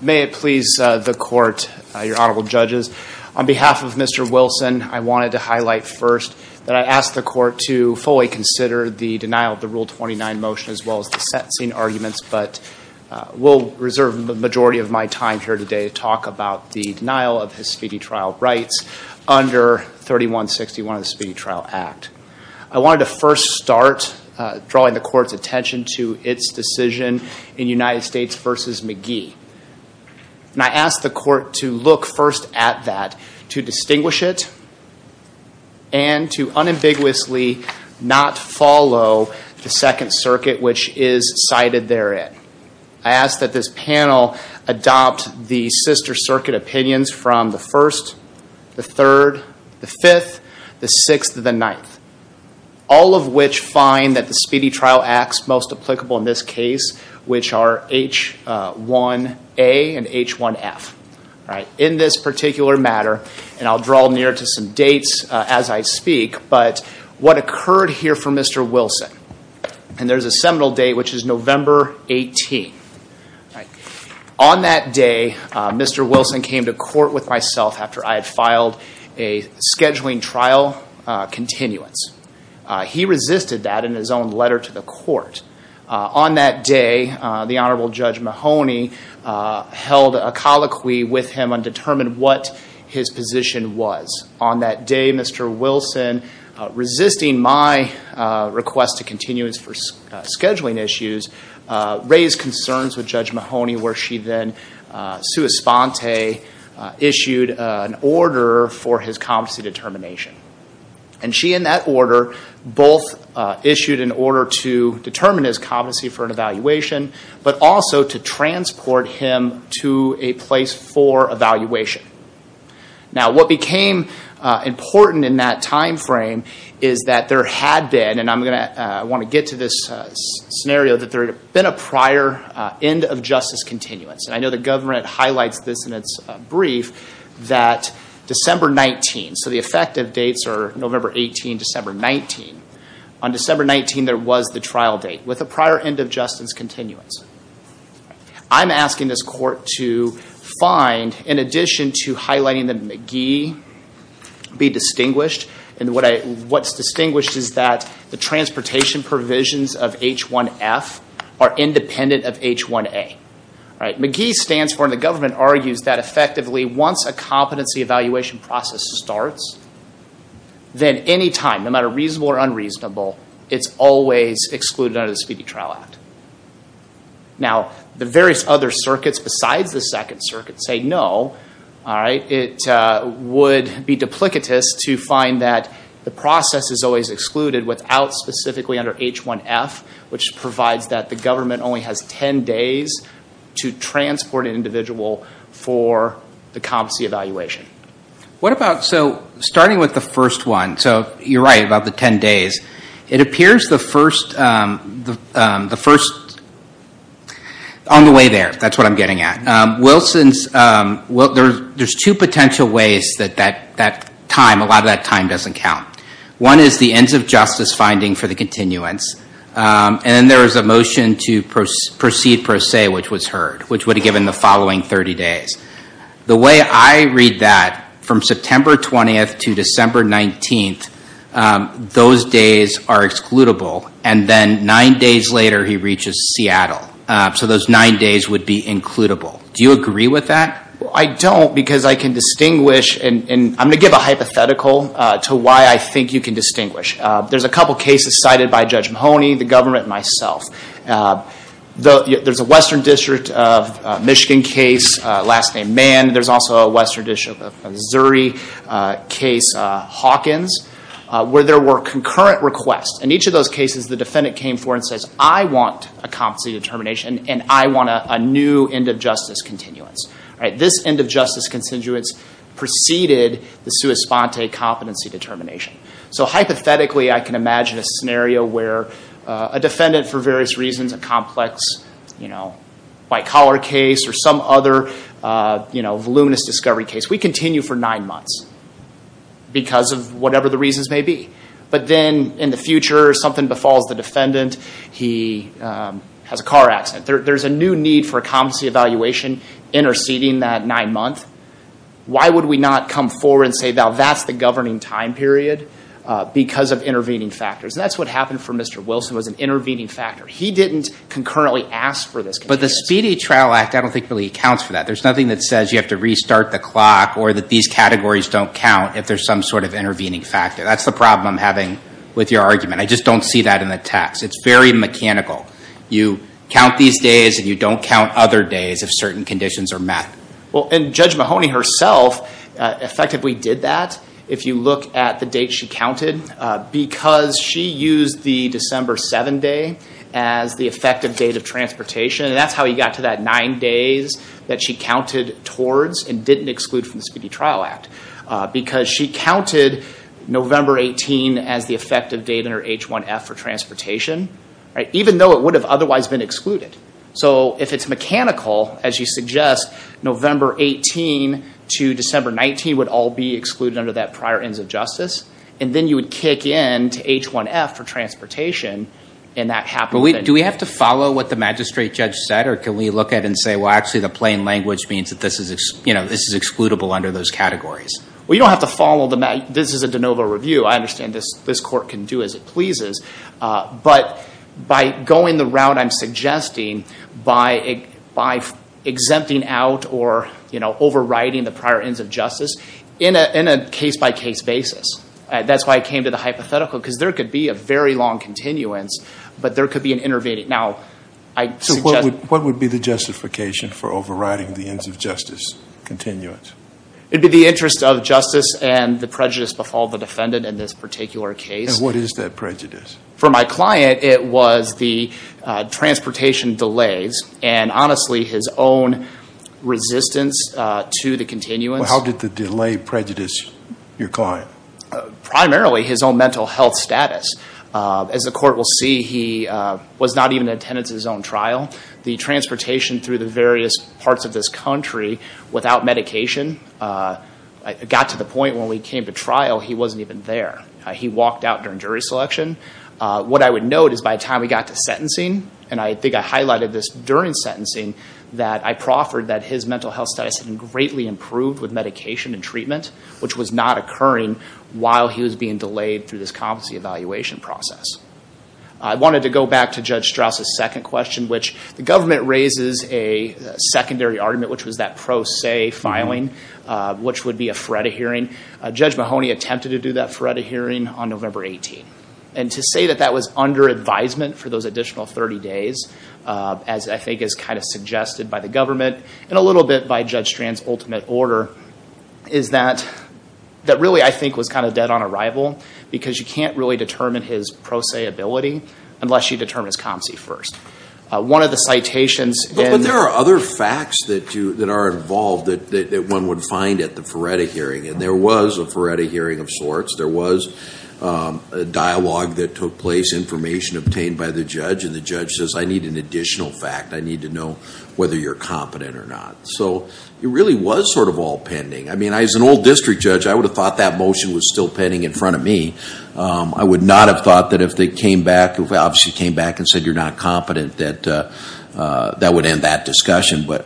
May it please the court, your Honorable Judges. On behalf of Mr. Wilson, I wanted to highlight first that I ask the court to fully consider the denial of the Rule 29 motion as well as the sentencing arguments, but we'll reserve the majority of my time here today to talk about the denial of his speedy trial rights under 3161 of the Speedy Trial Act. I wanted to first start drawing the court's attention to its decision in United States v. McGee. And I ask the court to look first at that, to distinguish it, and to unambiguously not follow the Second Circuit which is cited therein. I ask that this panel adopt the Sister Circuit opinions from the First, the Third, the Fifth, the Sixth, and the Ninth, all of which find that the Speedy Trial Acts most applicable in this case which are H1A and H1F. In this particular matter, and I'll draw near to some dates as I speak, but what occurred here for Mr. Wilson, and there's a seminal date which is November 18. On that day, Mr. Wilson came to court with myself after I had filed a scheduling trial continuance. He resisted that in his own letter to the court. On that day, the Honorable Judge Mahoney held a colloquy with him and determined what his position was. On that day, Mr. Wilson, resisting my request to continuance for scheduling issues, raised concerns with Judge Mahoney where she then, sua sponte, issued an order for his competency determination. And she, in that order, both issued an order to determine his competency for an evaluation, but also to transport him to a place for evaluation. Now, what became important in that time frame is that there had been, and I want to get to this scenario, that there had been a prior end of justice continuance. And I know the government highlights this in its brief that December 19, so the effective dates are November 18, December 19. On December 19, there was the trial date with a prior end of justice continuance. I'm asking this court to find, in addition to highlighting the McGee, be distinguished. And what's distinguished is that the transportation provisions of H1F are independent of H1A. McGee stands for, and the government argues, that effectively once a competency evaluation process starts, then any time, no matter reasonable or unreasonable, it's always excluded under the Speedy Trial Act. Now, the various other circuits besides the Second Circuit say no. It would be duplicitous to find that the process is always excluded without specifically under H1F, which provides that the government only has 10 days to transport an individual for the competency evaluation. What about, so starting with the first one, so you're right about the 10 days. It appears the first, on the way there, that's what I'm getting at. There's two potential ways that that time, a lot of that time doesn't count. One is the ends of justice finding for the continuance, and then there is a motion to proceed per se, which was heard, which would have given the following 30 days. The way I read that, from September 20 to December 19, those days are excludable, and then nine days later he reaches Seattle. So those nine days would be includable. Do you agree with that? I don't, because I can distinguish, and I'm going to give a hypothetical to why I think you can distinguish. There's a couple cases cited by Judge Mahoney, the government, and myself. There's a Western District of Michigan case, last name Mann. There's also a Western District of Missouri case, Hawkins, where there were concurrent requests, and each of those cases the defendant came forward and says, I want a competency determination and I want a new end of justice continuance. This end of justice continuance preceded the sua sponte competency determination. So hypothetically, I can imagine a scenario where a defendant, for various reasons, a complex white collar case or some other voluminous discovery case, we continue for nine months because of whatever the reasons may be. But then in the future, something befalls the defendant, he has a car accident. There's a new need for a competency evaluation interceding that nine months. Why would we not come forward and say, well, that's the governing time period because of intervening factors? And that's what happened for Mr. Wilson was an intervening factor. He didn't concurrently ask for this. But the Speedy Trial Act, I don't think, really accounts for that. There's nothing that says you have to restart the clock or that these categories don't count if there's some sort of intervening factor. That's the problem I'm having with your argument. I just don't see that in the text. It's very mechanical. You count these days and you don't count other days if certain conditions are met. Well, and Judge Mahoney herself effectively did that if you look at the date she counted because she used the December 7 day as the effective date of transportation. And that's how he got to that nine days that she counted towards and didn't exclude from the Speedy Trial Act because she counted November 18 as the effective date under H1F for transportation, even though it would have otherwise been excluded. So if it's mechanical, as you suggest, November 18 to December 19 would all be excluded under that prior ends of justice. And then you would kick in to H1F for transportation and that happened. Do we have to follow what the magistrate judge said or can we look at it and say, well, actually the plain language means that this is excludable under those categories? Well, you don't have to follow them. This is a de novo review. I understand this court can do as it pleases. But by going the route I'm suggesting by exempting out or overriding the prior ends of justice in a case-by-case basis, that's why I came to the hypothetical because there could be a very long continuance, but there could be an intervening. So what would be the justification for overriding the ends of justice continuance? It would be the interest of justice and the prejudice before the defendant in this particular case. And what is that prejudice? For my client, it was the transportation delays and honestly his own resistance to the continuance. How did the delay prejudice your client? Primarily his own mental health status. As the court will see, he was not even in attendance at his own trial. The transportation through the various parts of this country without medication got to the point when we came to trial he wasn't even there. He walked out during jury selection. What I would note is by the time we got to sentencing, and I think I highlighted this during sentencing, that I proffered that his mental health status had greatly improved with medication and treatment, which was not occurring while he was being delayed through this competency evaluation process. I wanted to go back to Judge Strauss' second question, which the government raises a secondary argument, which was that pro se filing, which would be a FREDA hearing. Judge Mahoney attempted to do that FREDA hearing on November 18. And to say that that was under advisement for those additional 30 days, as I think is kind of suggested by the government and a little bit by Judge Strand's ultimate order, is that really I think was kind of dead on arrival, because you can't really determine his pro se ability unless you determine his COMSI first. One of the citations in- But there are other facts that are involved that one would find at the FREDA hearing, and there was a FREDA hearing of sorts. There was a dialogue that took place, information obtained by the judge, and the judge says, I need an additional fact. I need to know whether you're competent or not. So it really was sort of all pending. I mean, as an old district judge, I would have thought that motion was still pending in front of me. I would not have thought that if they came back, if they obviously came back and said you're not competent, that that would end that discussion. But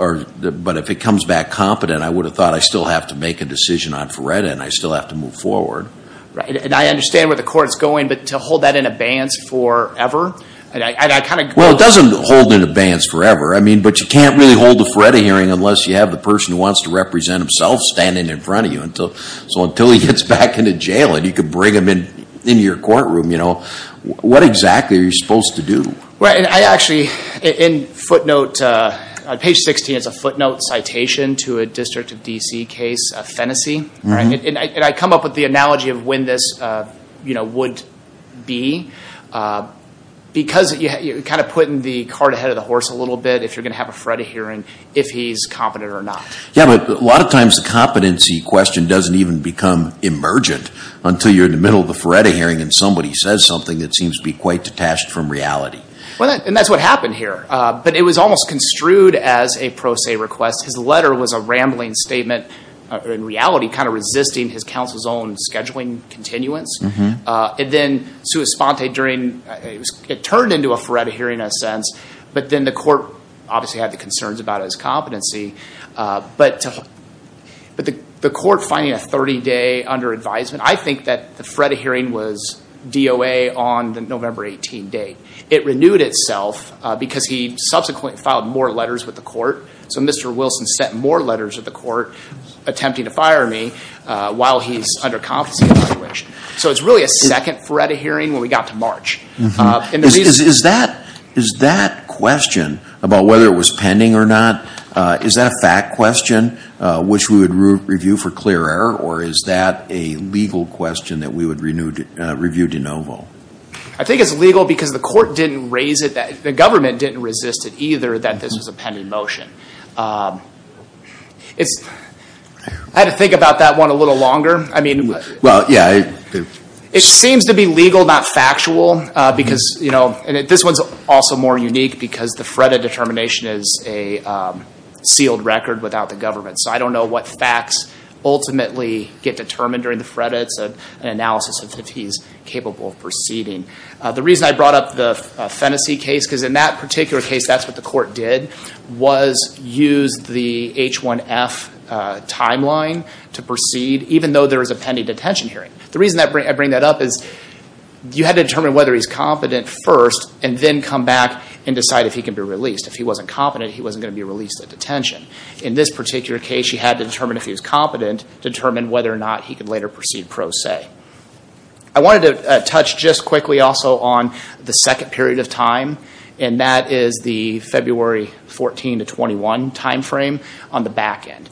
if it comes back competent, I would have thought I still have to make a decision on FREDA, and I still have to move forward. And I understand where the court's going, but to hold that in abeyance forever? Well, it doesn't hold in abeyance forever. I mean, but you can't really hold a FREDA hearing unless you have the person who wants to represent himself standing in front of you. So until he gets back into jail and you can bring him into your courtroom, what exactly are you supposed to do? Right. And I actually, in footnote, on page 16, it's a footnote citation to a District of D.C. case, Phenasy. And I come up with the analogy of when this would be. Because you're kind of putting the cart ahead of the horse a little bit if you're going to have a FREDA hearing, if he's competent or not. Yeah, but a lot of times the competency question doesn't even become emergent until you're in the middle of the FREDA hearing and somebody says something that seems to be quite detached from reality. And that's what happened here. But it was almost construed as a pro se request. His letter was a rambling statement. In reality, kind of resisting his counsel's own scheduling continuance. And then sua sponte during, it turned into a FREDA hearing in a sense. But then the court obviously had the concerns about his competency. But the court finding a 30-day under advisement, I think that the FREDA hearing was DOA on the November 18 date. It renewed itself because he subsequently filed more letters with the court. So Mr. Wilson sent more letters to the court attempting to fire me while he's under competency evaluation. So it's really a second FREDA hearing when we got to March. Is that question about whether it was pending or not, is that a fact question which we would review for clear error? Or is that a legal question that we would review de novo? I think it's legal because the court didn't raise it, the government didn't resist it either that this was a pending motion. I had to think about that one a little longer. It seems to be legal, not factual. This one's also more unique because the FREDA determination is a sealed record without the government. So I don't know what facts ultimately get determined during the FREDA. It's an analysis of if he's capable of proceeding. The reason I brought up the Phenasy case, because in that particular case that's what the court did, was use the H1F timeline to proceed, even though there was a pending detention hearing. The reason I bring that up is you had to determine whether he's competent first and then come back and decide if he can be released. If he wasn't competent, he wasn't going to be released at detention. In this particular case, you had to determine if he was competent, determine whether or not he could later proceed pro se. I wanted to touch just quickly also on the second period of time, and that is the February 14 to 21 timeframe on the back end.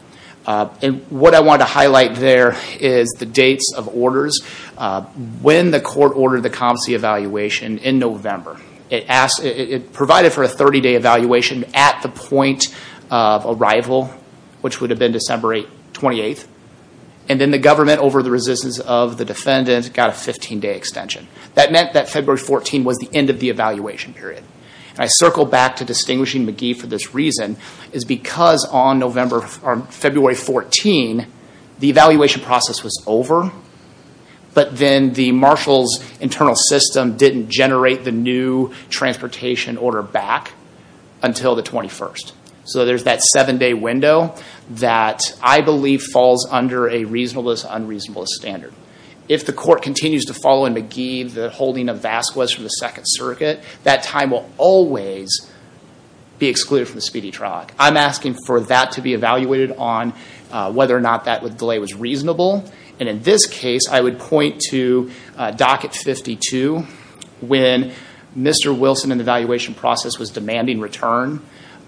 What I wanted to highlight there is the dates of orders. When the court ordered the competency evaluation in November, it provided for a 30-day evaluation at the point of arrival, which would have been December 28th. Then the government, over the resistance of the defendant, got a 15-day extension. That meant that February 14 was the end of the evaluation period. I circle back to distinguishing McGee for this reason, is because on February 14, the evaluation process was over, but then the marshal's internal system didn't generate the new transportation order back until the 21st. There's that seven-day window that I believe falls under a reasonableness, unreasonableness standard. If the court continues to follow in McGee the holding of Vasquez from the Second Circuit, that time will always be excluded from the speedy trial. I'm asking for that to be evaluated on whether or not that delay was reasonable. In this case, I would point to Docket 52. When Mr. Wilson in the evaluation process was demanding return,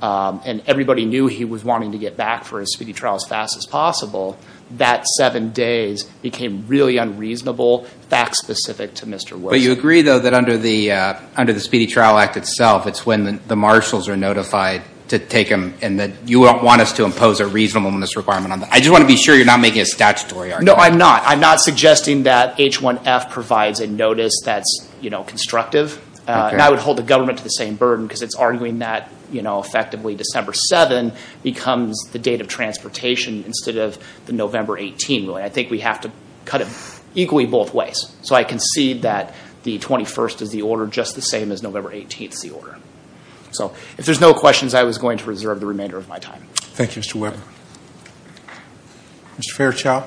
and everybody knew he was wanting to get back for a speedy trial as fast as possible, that seven days became really unreasonable, fact-specific to Mr. Wilson. But you agree, though, that under the Speedy Trial Act itself, it's when the marshals are notified to take him, and that you don't want us to impose a reasonableness requirement on that? I just want to be sure you're not making a statutory argument. No, I'm not. I'm not suggesting that H1F provides a notice that's constructive. I would hold the government to the same burden because it's arguing that, effectively, December 7 becomes the date of transportation instead of the November 18, really. I think we have to cut it equally both ways. So I concede that the 21st is the order just the same as November 18th is the order. So if there's no questions, I was going to reserve the remainder of my time. Thank you, Mr. Weber. Mr. Fairchild.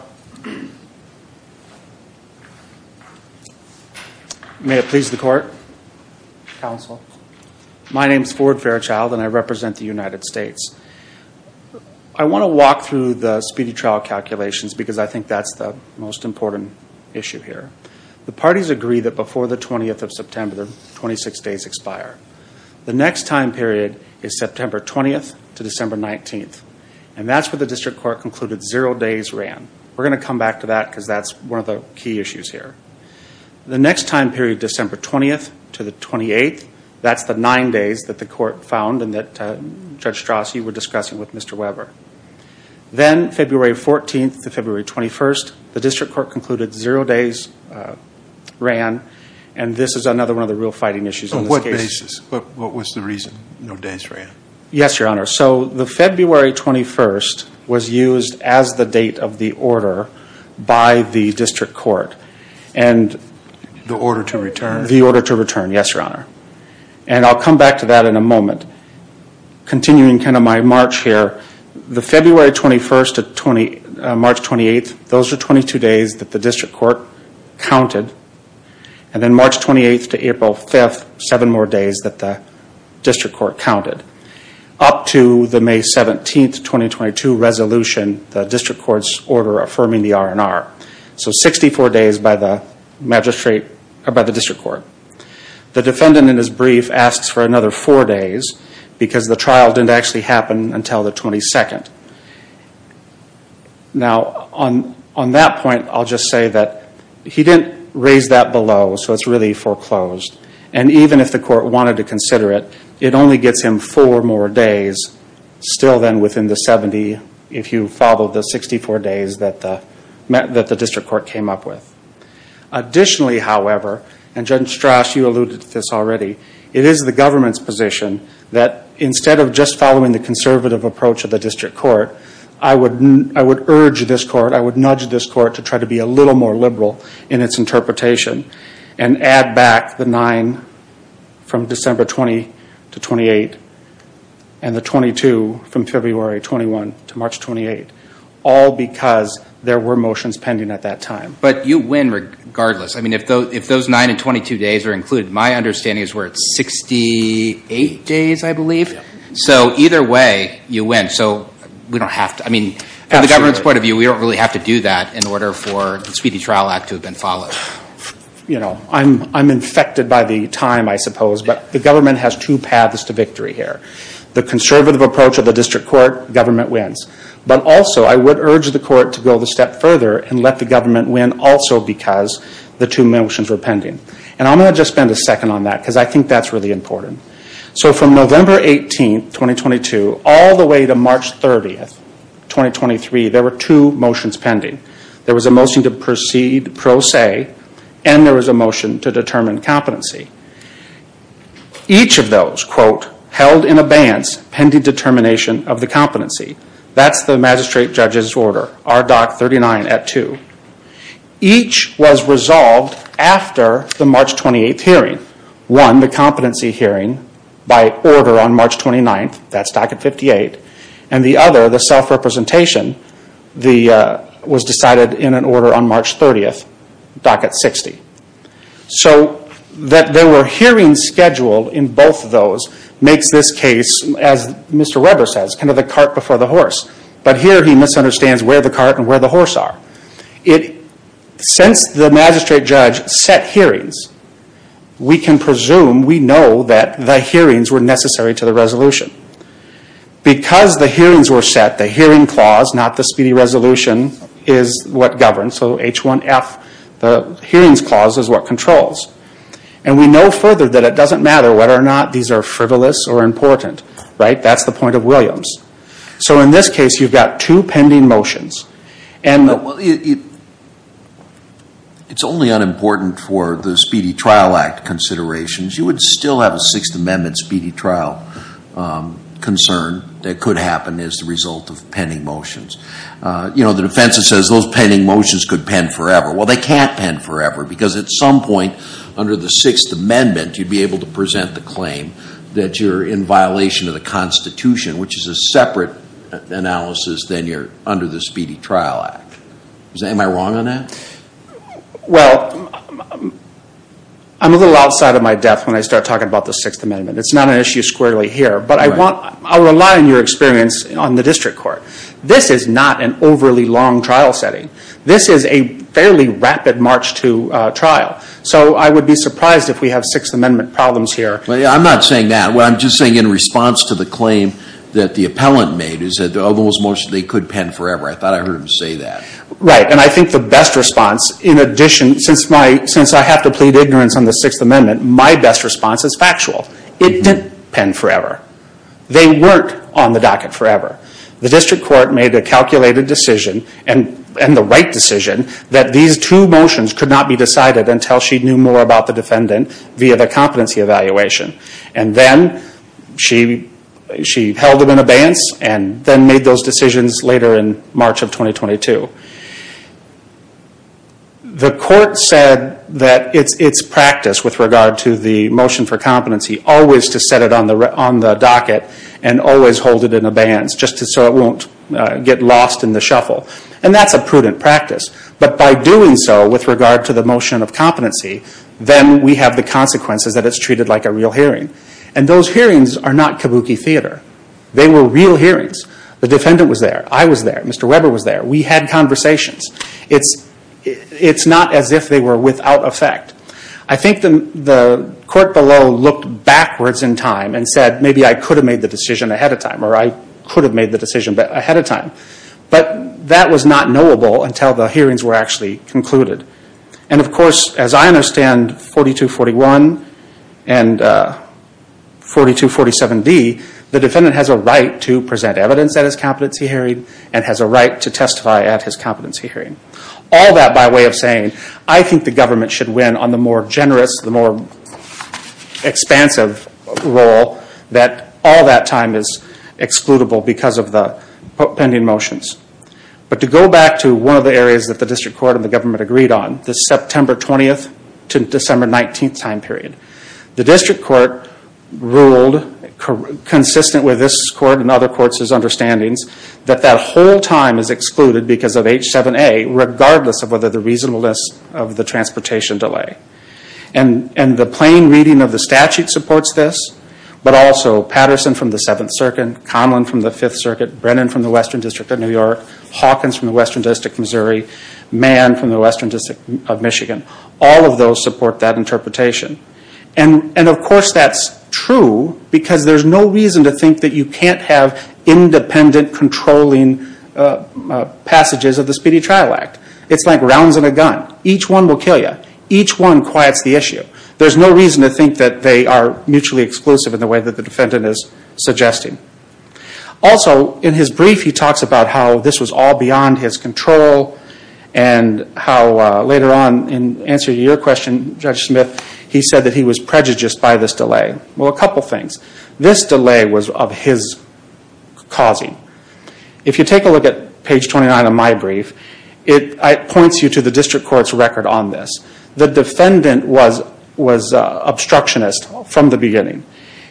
May it please the Court, Counsel. My name is Ford Fairchild, and I represent the United States. I want to walk through the speedy trial calculations because I think that's the most important issue here. The parties agree that before the 20th of September, the 26 days expire. The next time period is September 20th to December 19th, and that's where the district court concluded zero days ran. We're going to come back to that because that's one of the key issues here. The next time period, December 20th to the 28th, that's the nine days that the court found and that Judge Strauss, you were discussing with Mr. Weber. Then February 14th to February 21st, the district court concluded zero days ran, and this is another one of the real fighting issues on this case. On what basis? What was the reason no days ran? Yes, Your Honor. So the February 21st was used as the date of the order by the district court. The order to return. The order to return, yes, Your Honor. I'll come back to that in a moment. Continuing kind of my march here, the February 21st to March 28th, those are 22 days that the district court counted. Then March 28th to April 5th, seven more days that the district court counted. Up to the May 17th, 2022 resolution, the district court's order affirming the R&R. So 64 days by the district court. The defendant in his brief asks for another four days because the trial didn't actually happen until the 22nd. Now, on that point, I'll just say that he didn't raise that below, so it's really foreclosed. And even if the court wanted to consider it, it only gets him four more days still then within the 70, if you follow the 64 days that the district court came up with. Additionally, however, and Judge Strasch, you alluded to this already, it is the government's position that instead of just following the conservative approach of the district court, I would urge this court, I would nudge this court to try to be a little more liberal in its interpretation and add back the nine from December 20 to 28 and the 22 from February 21 to March 28, all because there were motions pending at that time. But you win regardless. I mean, if those nine and 22 days are included, my understanding is we're at 68 days, I believe. So either way, you win. So we don't have to. I mean, from the government's point of view, we don't really have to do that in order for the Speedy Trial Act to have been followed. You know, I'm infected by the time, I suppose, but the government has two paths to victory here. The conservative approach of the district court, government wins. But also, I would urge the court to go the step further and let the government win also because the two motions were pending. And I'm going to just spend a second on that because I think that's really important. So from November 18, 2022, all the way to March 30, 2023, there were two motions pending. There was a motion to proceed pro se, and there was a motion to determine competency. Each of those, quote, held in abeyance pending determination of the competency. That's the magistrate judge's order, RDoC 39 at 2. Each was resolved after the March 28 hearing. One, the competency hearing by order on March 29. That's DoC at 58. And the other, the self-representation, was decided in an order on March 30, DoC at 60. So that there were hearings scheduled in both of those makes this case, as Mr. Weber says, kind of the cart before the horse. But here he misunderstands where the cart and where the horse are. Since the magistrate judge set hearings, we can presume, we know that the hearings were necessary to the resolution. Because the hearings were set, the hearing clause, not the speedy resolution, is what governs. So H1F, the hearings clause, is what controls. And we know further that it doesn't matter whether or not these are frivolous or important. That's the point of Williams. So in this case, you've got two pending motions. It's only unimportant for the Speedy Trial Act considerations. You would still have a Sixth Amendment speedy trial concern that could happen as a result of pending motions. You know, the defense says those pending motions could pen forever. Well, they can't pen forever. Because at some point under the Sixth Amendment, you'd be able to present the claim that you're in violation of the Constitution, which is a separate analysis than you're under the Speedy Trial Act. Am I wrong on that? Well, I'm a little outside of my depth when I start talking about the Sixth Amendment. It's not an issue squarely here. But I'll rely on your experience on the district court. This is not an overly long trial setting. This is a fairly rapid March 2 trial. So I would be surprised if we have Sixth Amendment problems here. I'm not saying that. What I'm just saying in response to the claim that the appellant made is that those motions, they could pen forever. I thought I heard him say that. Right, and I think the best response, in addition, since I have to plead ignorance on the Sixth Amendment, my best response is factual. It didn't pen forever. They weren't on the docket forever. The district court made a calculated decision, and the right decision, that these two motions could not be decided until she knew more about the defendant via the competency evaluation. And then she held it in abeyance and then made those decisions later in March of 2022. The court said that it's practice with regard to the motion for competency always to set it on the docket and always hold it in abeyance just so it won't get lost in the shuffle. And that's a prudent practice. But by doing so with regard to the motion of competency, then we have the consequences that it's treated like a real hearing. And those hearings are not kabuki theater. They were real hearings. The defendant was there. I was there. Mr. Weber was there. We had conversations. It's not as if they were without effect. I think the court below looked backwards in time and said maybe I could have made the decision ahead of time, or I could have made the decision ahead of time. But that was not knowable until the hearings were actually concluded. And, of course, as I understand 4241 and 4247D, the defendant has a right to present evidence at his competency hearing and has a right to testify at his competency hearing. All that by way of saying I think the government should win on the more generous, the more expansive role that all that time is excludable because of the pending motions. But to go back to one of the areas that the district court and the government agreed on, the September 20th to December 19th time period, the district court ruled consistent with this court and other courts' understandings that that whole time is excluded because of H7A regardless of whether the reasonableness of the transportation delay. And the plain reading of the statute supports this, but also Patterson from the 7th Circuit, Conlon from the 5th Circuit, Brennan from the Western District of New York, Hawkins from the Western District of Missouri, Mann from the Western District of Michigan. All of those support that interpretation. And of course that's true because there's no reason to think that you can't have independent controlling passages of the Speedy Trial Act. It's like rounds and a gun. Each one will kill you. Each one quiets the issue. There's no reason to think that they are mutually exclusive in the way that the defendant is suggesting. Also, in his brief he talks about how this was all beyond his control and how later on in answering your question, Judge Smith, he said that he was prejudiced by this delay. Well, a couple things. This delay was of his causing. If you take a look at page 29 of my brief, it points you to the district court's record on this. The defendant was obstructionist from the beginning.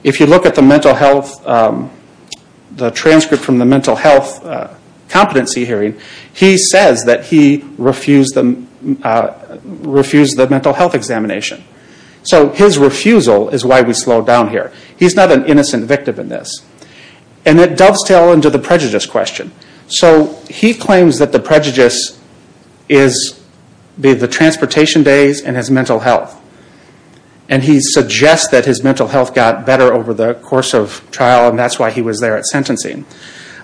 If you look at the mental health, the transcript from the mental health competency hearing, he says that he refused the mental health examination. So his refusal is why we slow down here. He's not an innocent victim in this. And it delves down into the prejudice question. So he claims that the prejudice is the transportation days and his mental health. And he suggests that his mental health got better over the course of trial, and that's why he was there at sentencing.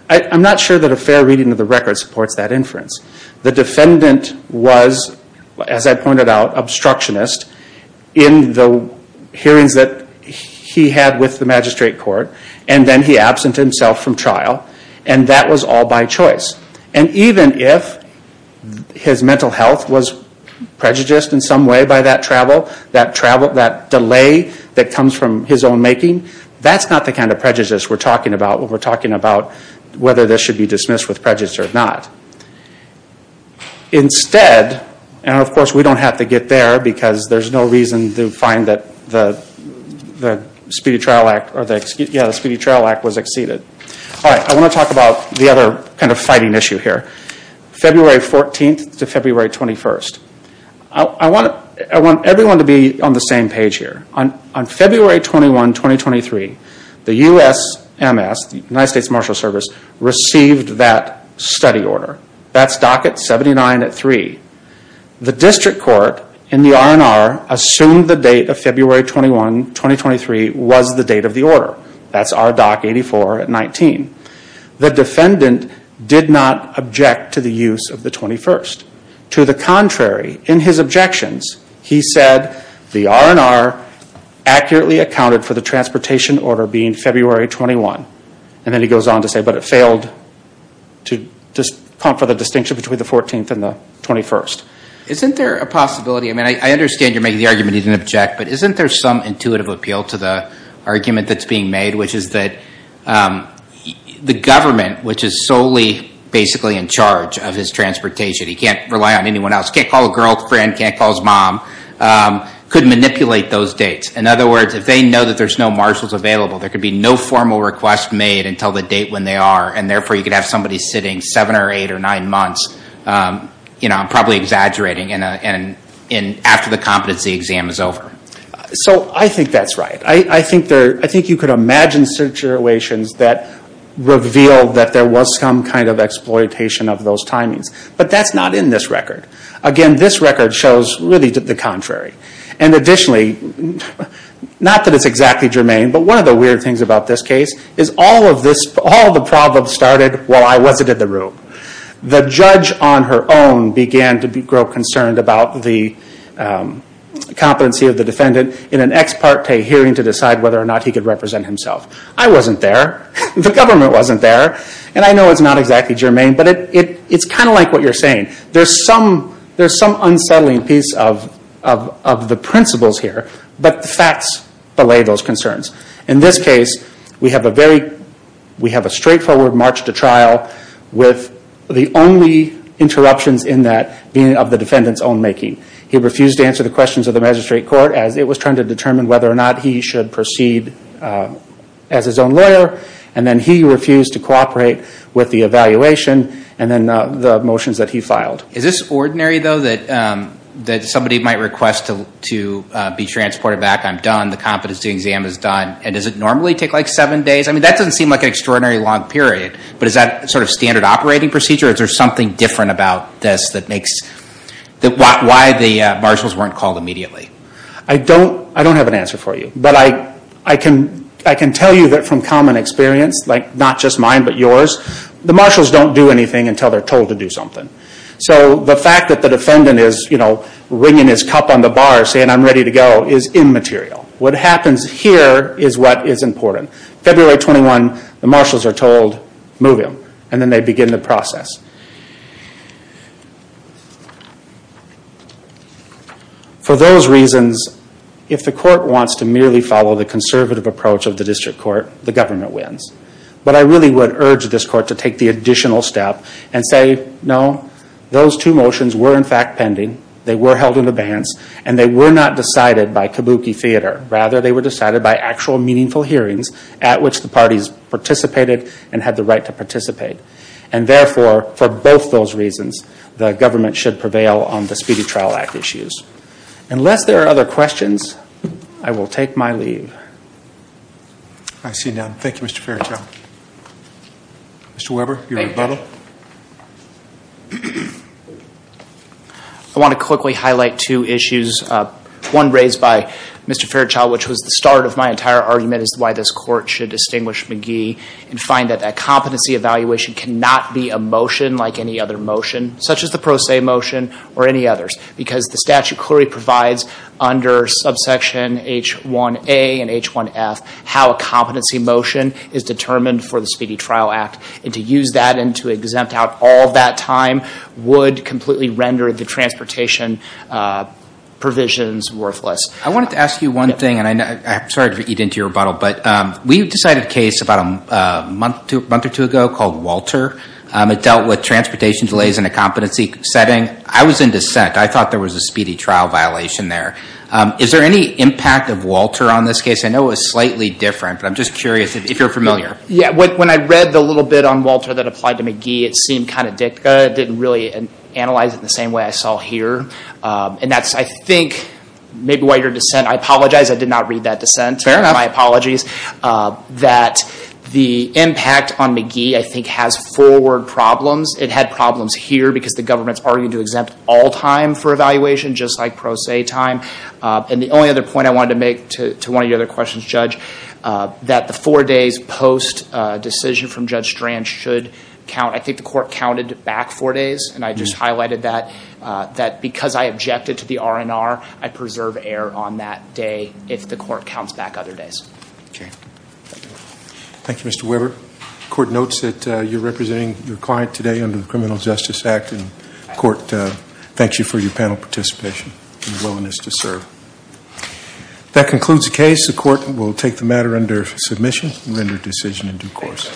I'm not sure that a fair reading of the record supports that inference. The defendant was, as I pointed out, obstructionist in the hearings that he had with the magistrate court, and then he absent himself from trial, and that was all by choice. And even if his mental health was prejudiced in some way by that travel, that delay that comes from his own making, that's not the kind of prejudice we're talking about when we're talking about whether this should be dismissed with prejudice or not. Instead, and of course we don't have to get there because there's no reason to find that the Speedy Trial Act was exceeded. I want to talk about the other kind of fighting issue here. February 14th to February 21st. I want everyone to be on the same page here. On February 21, 2023, the USMS, the United States Marshal Service, received that study order. That's Docket 79 at 3. The district court in the R&R assumed the date of February 21, 2023, was the date of the order. That's R Dock 84 at 19. The defendant did not object to the use of the 21st. To the contrary, in his objections, he said, the R&R accurately accounted for the transportation order being February 21. Then he goes on to say, but it failed to confer the distinction between the 14th and the 21st. Isn't there a possibility? I understand you're making the argument he didn't object, but isn't there some intuitive appeal to the argument that's being made, which is that the government, which is solely basically in charge of his transportation, he can't rely on anyone else. He can't call a girlfriend. He can't call his mom. He could manipulate those dates. In other words, if they know that there's no marshals available, there could be no formal request made until the date when they are. Therefore, you could have somebody sitting seven or eight or nine months, probably exaggerating, after the competency exam is over. I think that's right. I think you could imagine situations that reveal that there was some kind of exploitation of those timings. But that's not in this record. Again, this record shows really the contrary. Additionally, not that it's exactly germane, but one of the weird things about this case is all of the problems started while I wasn't in the room. The judge on her own began to grow concerned about the competency of the defendant in an ex parte hearing to decide whether or not he could represent himself. I wasn't there. The government wasn't there. I know it's not exactly germane, but it's kind of like what you're saying. There's some unsettling piece of the principles here, but the facts belay those concerns. In this case, we have a straightforward march to trial with the only interruptions in that being of the defendant's own making. He refused to answer the questions of the magistrate court as it was trying to determine whether or not he should proceed as his own lawyer. And then he refused to cooperate with the evaluation and then the motions that he filed. Is this ordinary, though, that somebody might request to be transported back, I'm done, the competency exam is done, and does it normally take like seven days? I mean, that doesn't seem like an extraordinarily long period, but is that sort of standard operating procedure? Is there something different about this that makes why the marshals weren't called immediately? I don't have an answer for you, but I can tell you that from common experience, like not just mine but yours, the marshals don't do anything until they're told to do something. So the fact that the defendant is ringing his cup on the bar saying I'm ready to go is immaterial. What happens here is what is important. February 21, the marshals are told, move him. And then they begin the process. For those reasons, if the court wants to merely follow the conservative approach of the district court, the government wins. But I really would urge this court to take the additional step and say, no, those two motions were in fact pending, they were held in advance, and they were not decided by kabuki theater. Rather, they were decided by actual meaningful hearings at which the parties participated and had the right to participate. And therefore, for both those reasons, the government should prevail on the Speedy Trial Act issues. Unless there are other questions, I will take my leave. I see none. Thank you, Mr. Fairchild. Mr. Weber, your rebuttal. I want to quickly highlight two issues, one raised by Mr. Fairchild, which was the start of my entire argument as to why this court should distinguish McGee and find that that competency evaluation cannot be a motion like any other motion, such as the Pro Se motion or any others. Because the statute clearly provides under subsection H1A and H1F how a competency motion is determined for the Speedy Trial Act. And to use that and to exempt out all that time would completely render the transportation provisions worthless. I wanted to ask you one thing, and I'm sorry to eat into your rebuttal, but we decided a case about a month or two ago called Walter. It dealt with transportation delays in a competency setting. I was in dissent. I thought there was a Speedy Trial violation there. Is there any impact of Walter on this case? I know it was slightly different, but I'm just curious if you're familiar. Yeah, when I read the little bit on Walter that applied to McGee, it seemed kind of dicta. It didn't really analyze it the same way I saw here. And that's, I think, maybe why you're dissent. I apologize. I did not read that dissent. Fair enough. My apologies. That the impact on McGee, I think, has forward problems. It had problems here because the government's arguing to exempt all time for evaluation, just like pro se time. And the only other point I wanted to make to one of your other questions, Judge, that the four days post decision from Judge Strand should count. I think the court counted back four days, and I just highlighted that because I objected to the R&R, I preserve error on that day if the court counts back other days. Thank you. Thank you, Mr. Weber. The court notes that you're representing your client today under the Criminal Justice Act, and the court thanks you for your panel participation and willingness to serve. That concludes the case. The court will take the matter under submission and render decision in due course.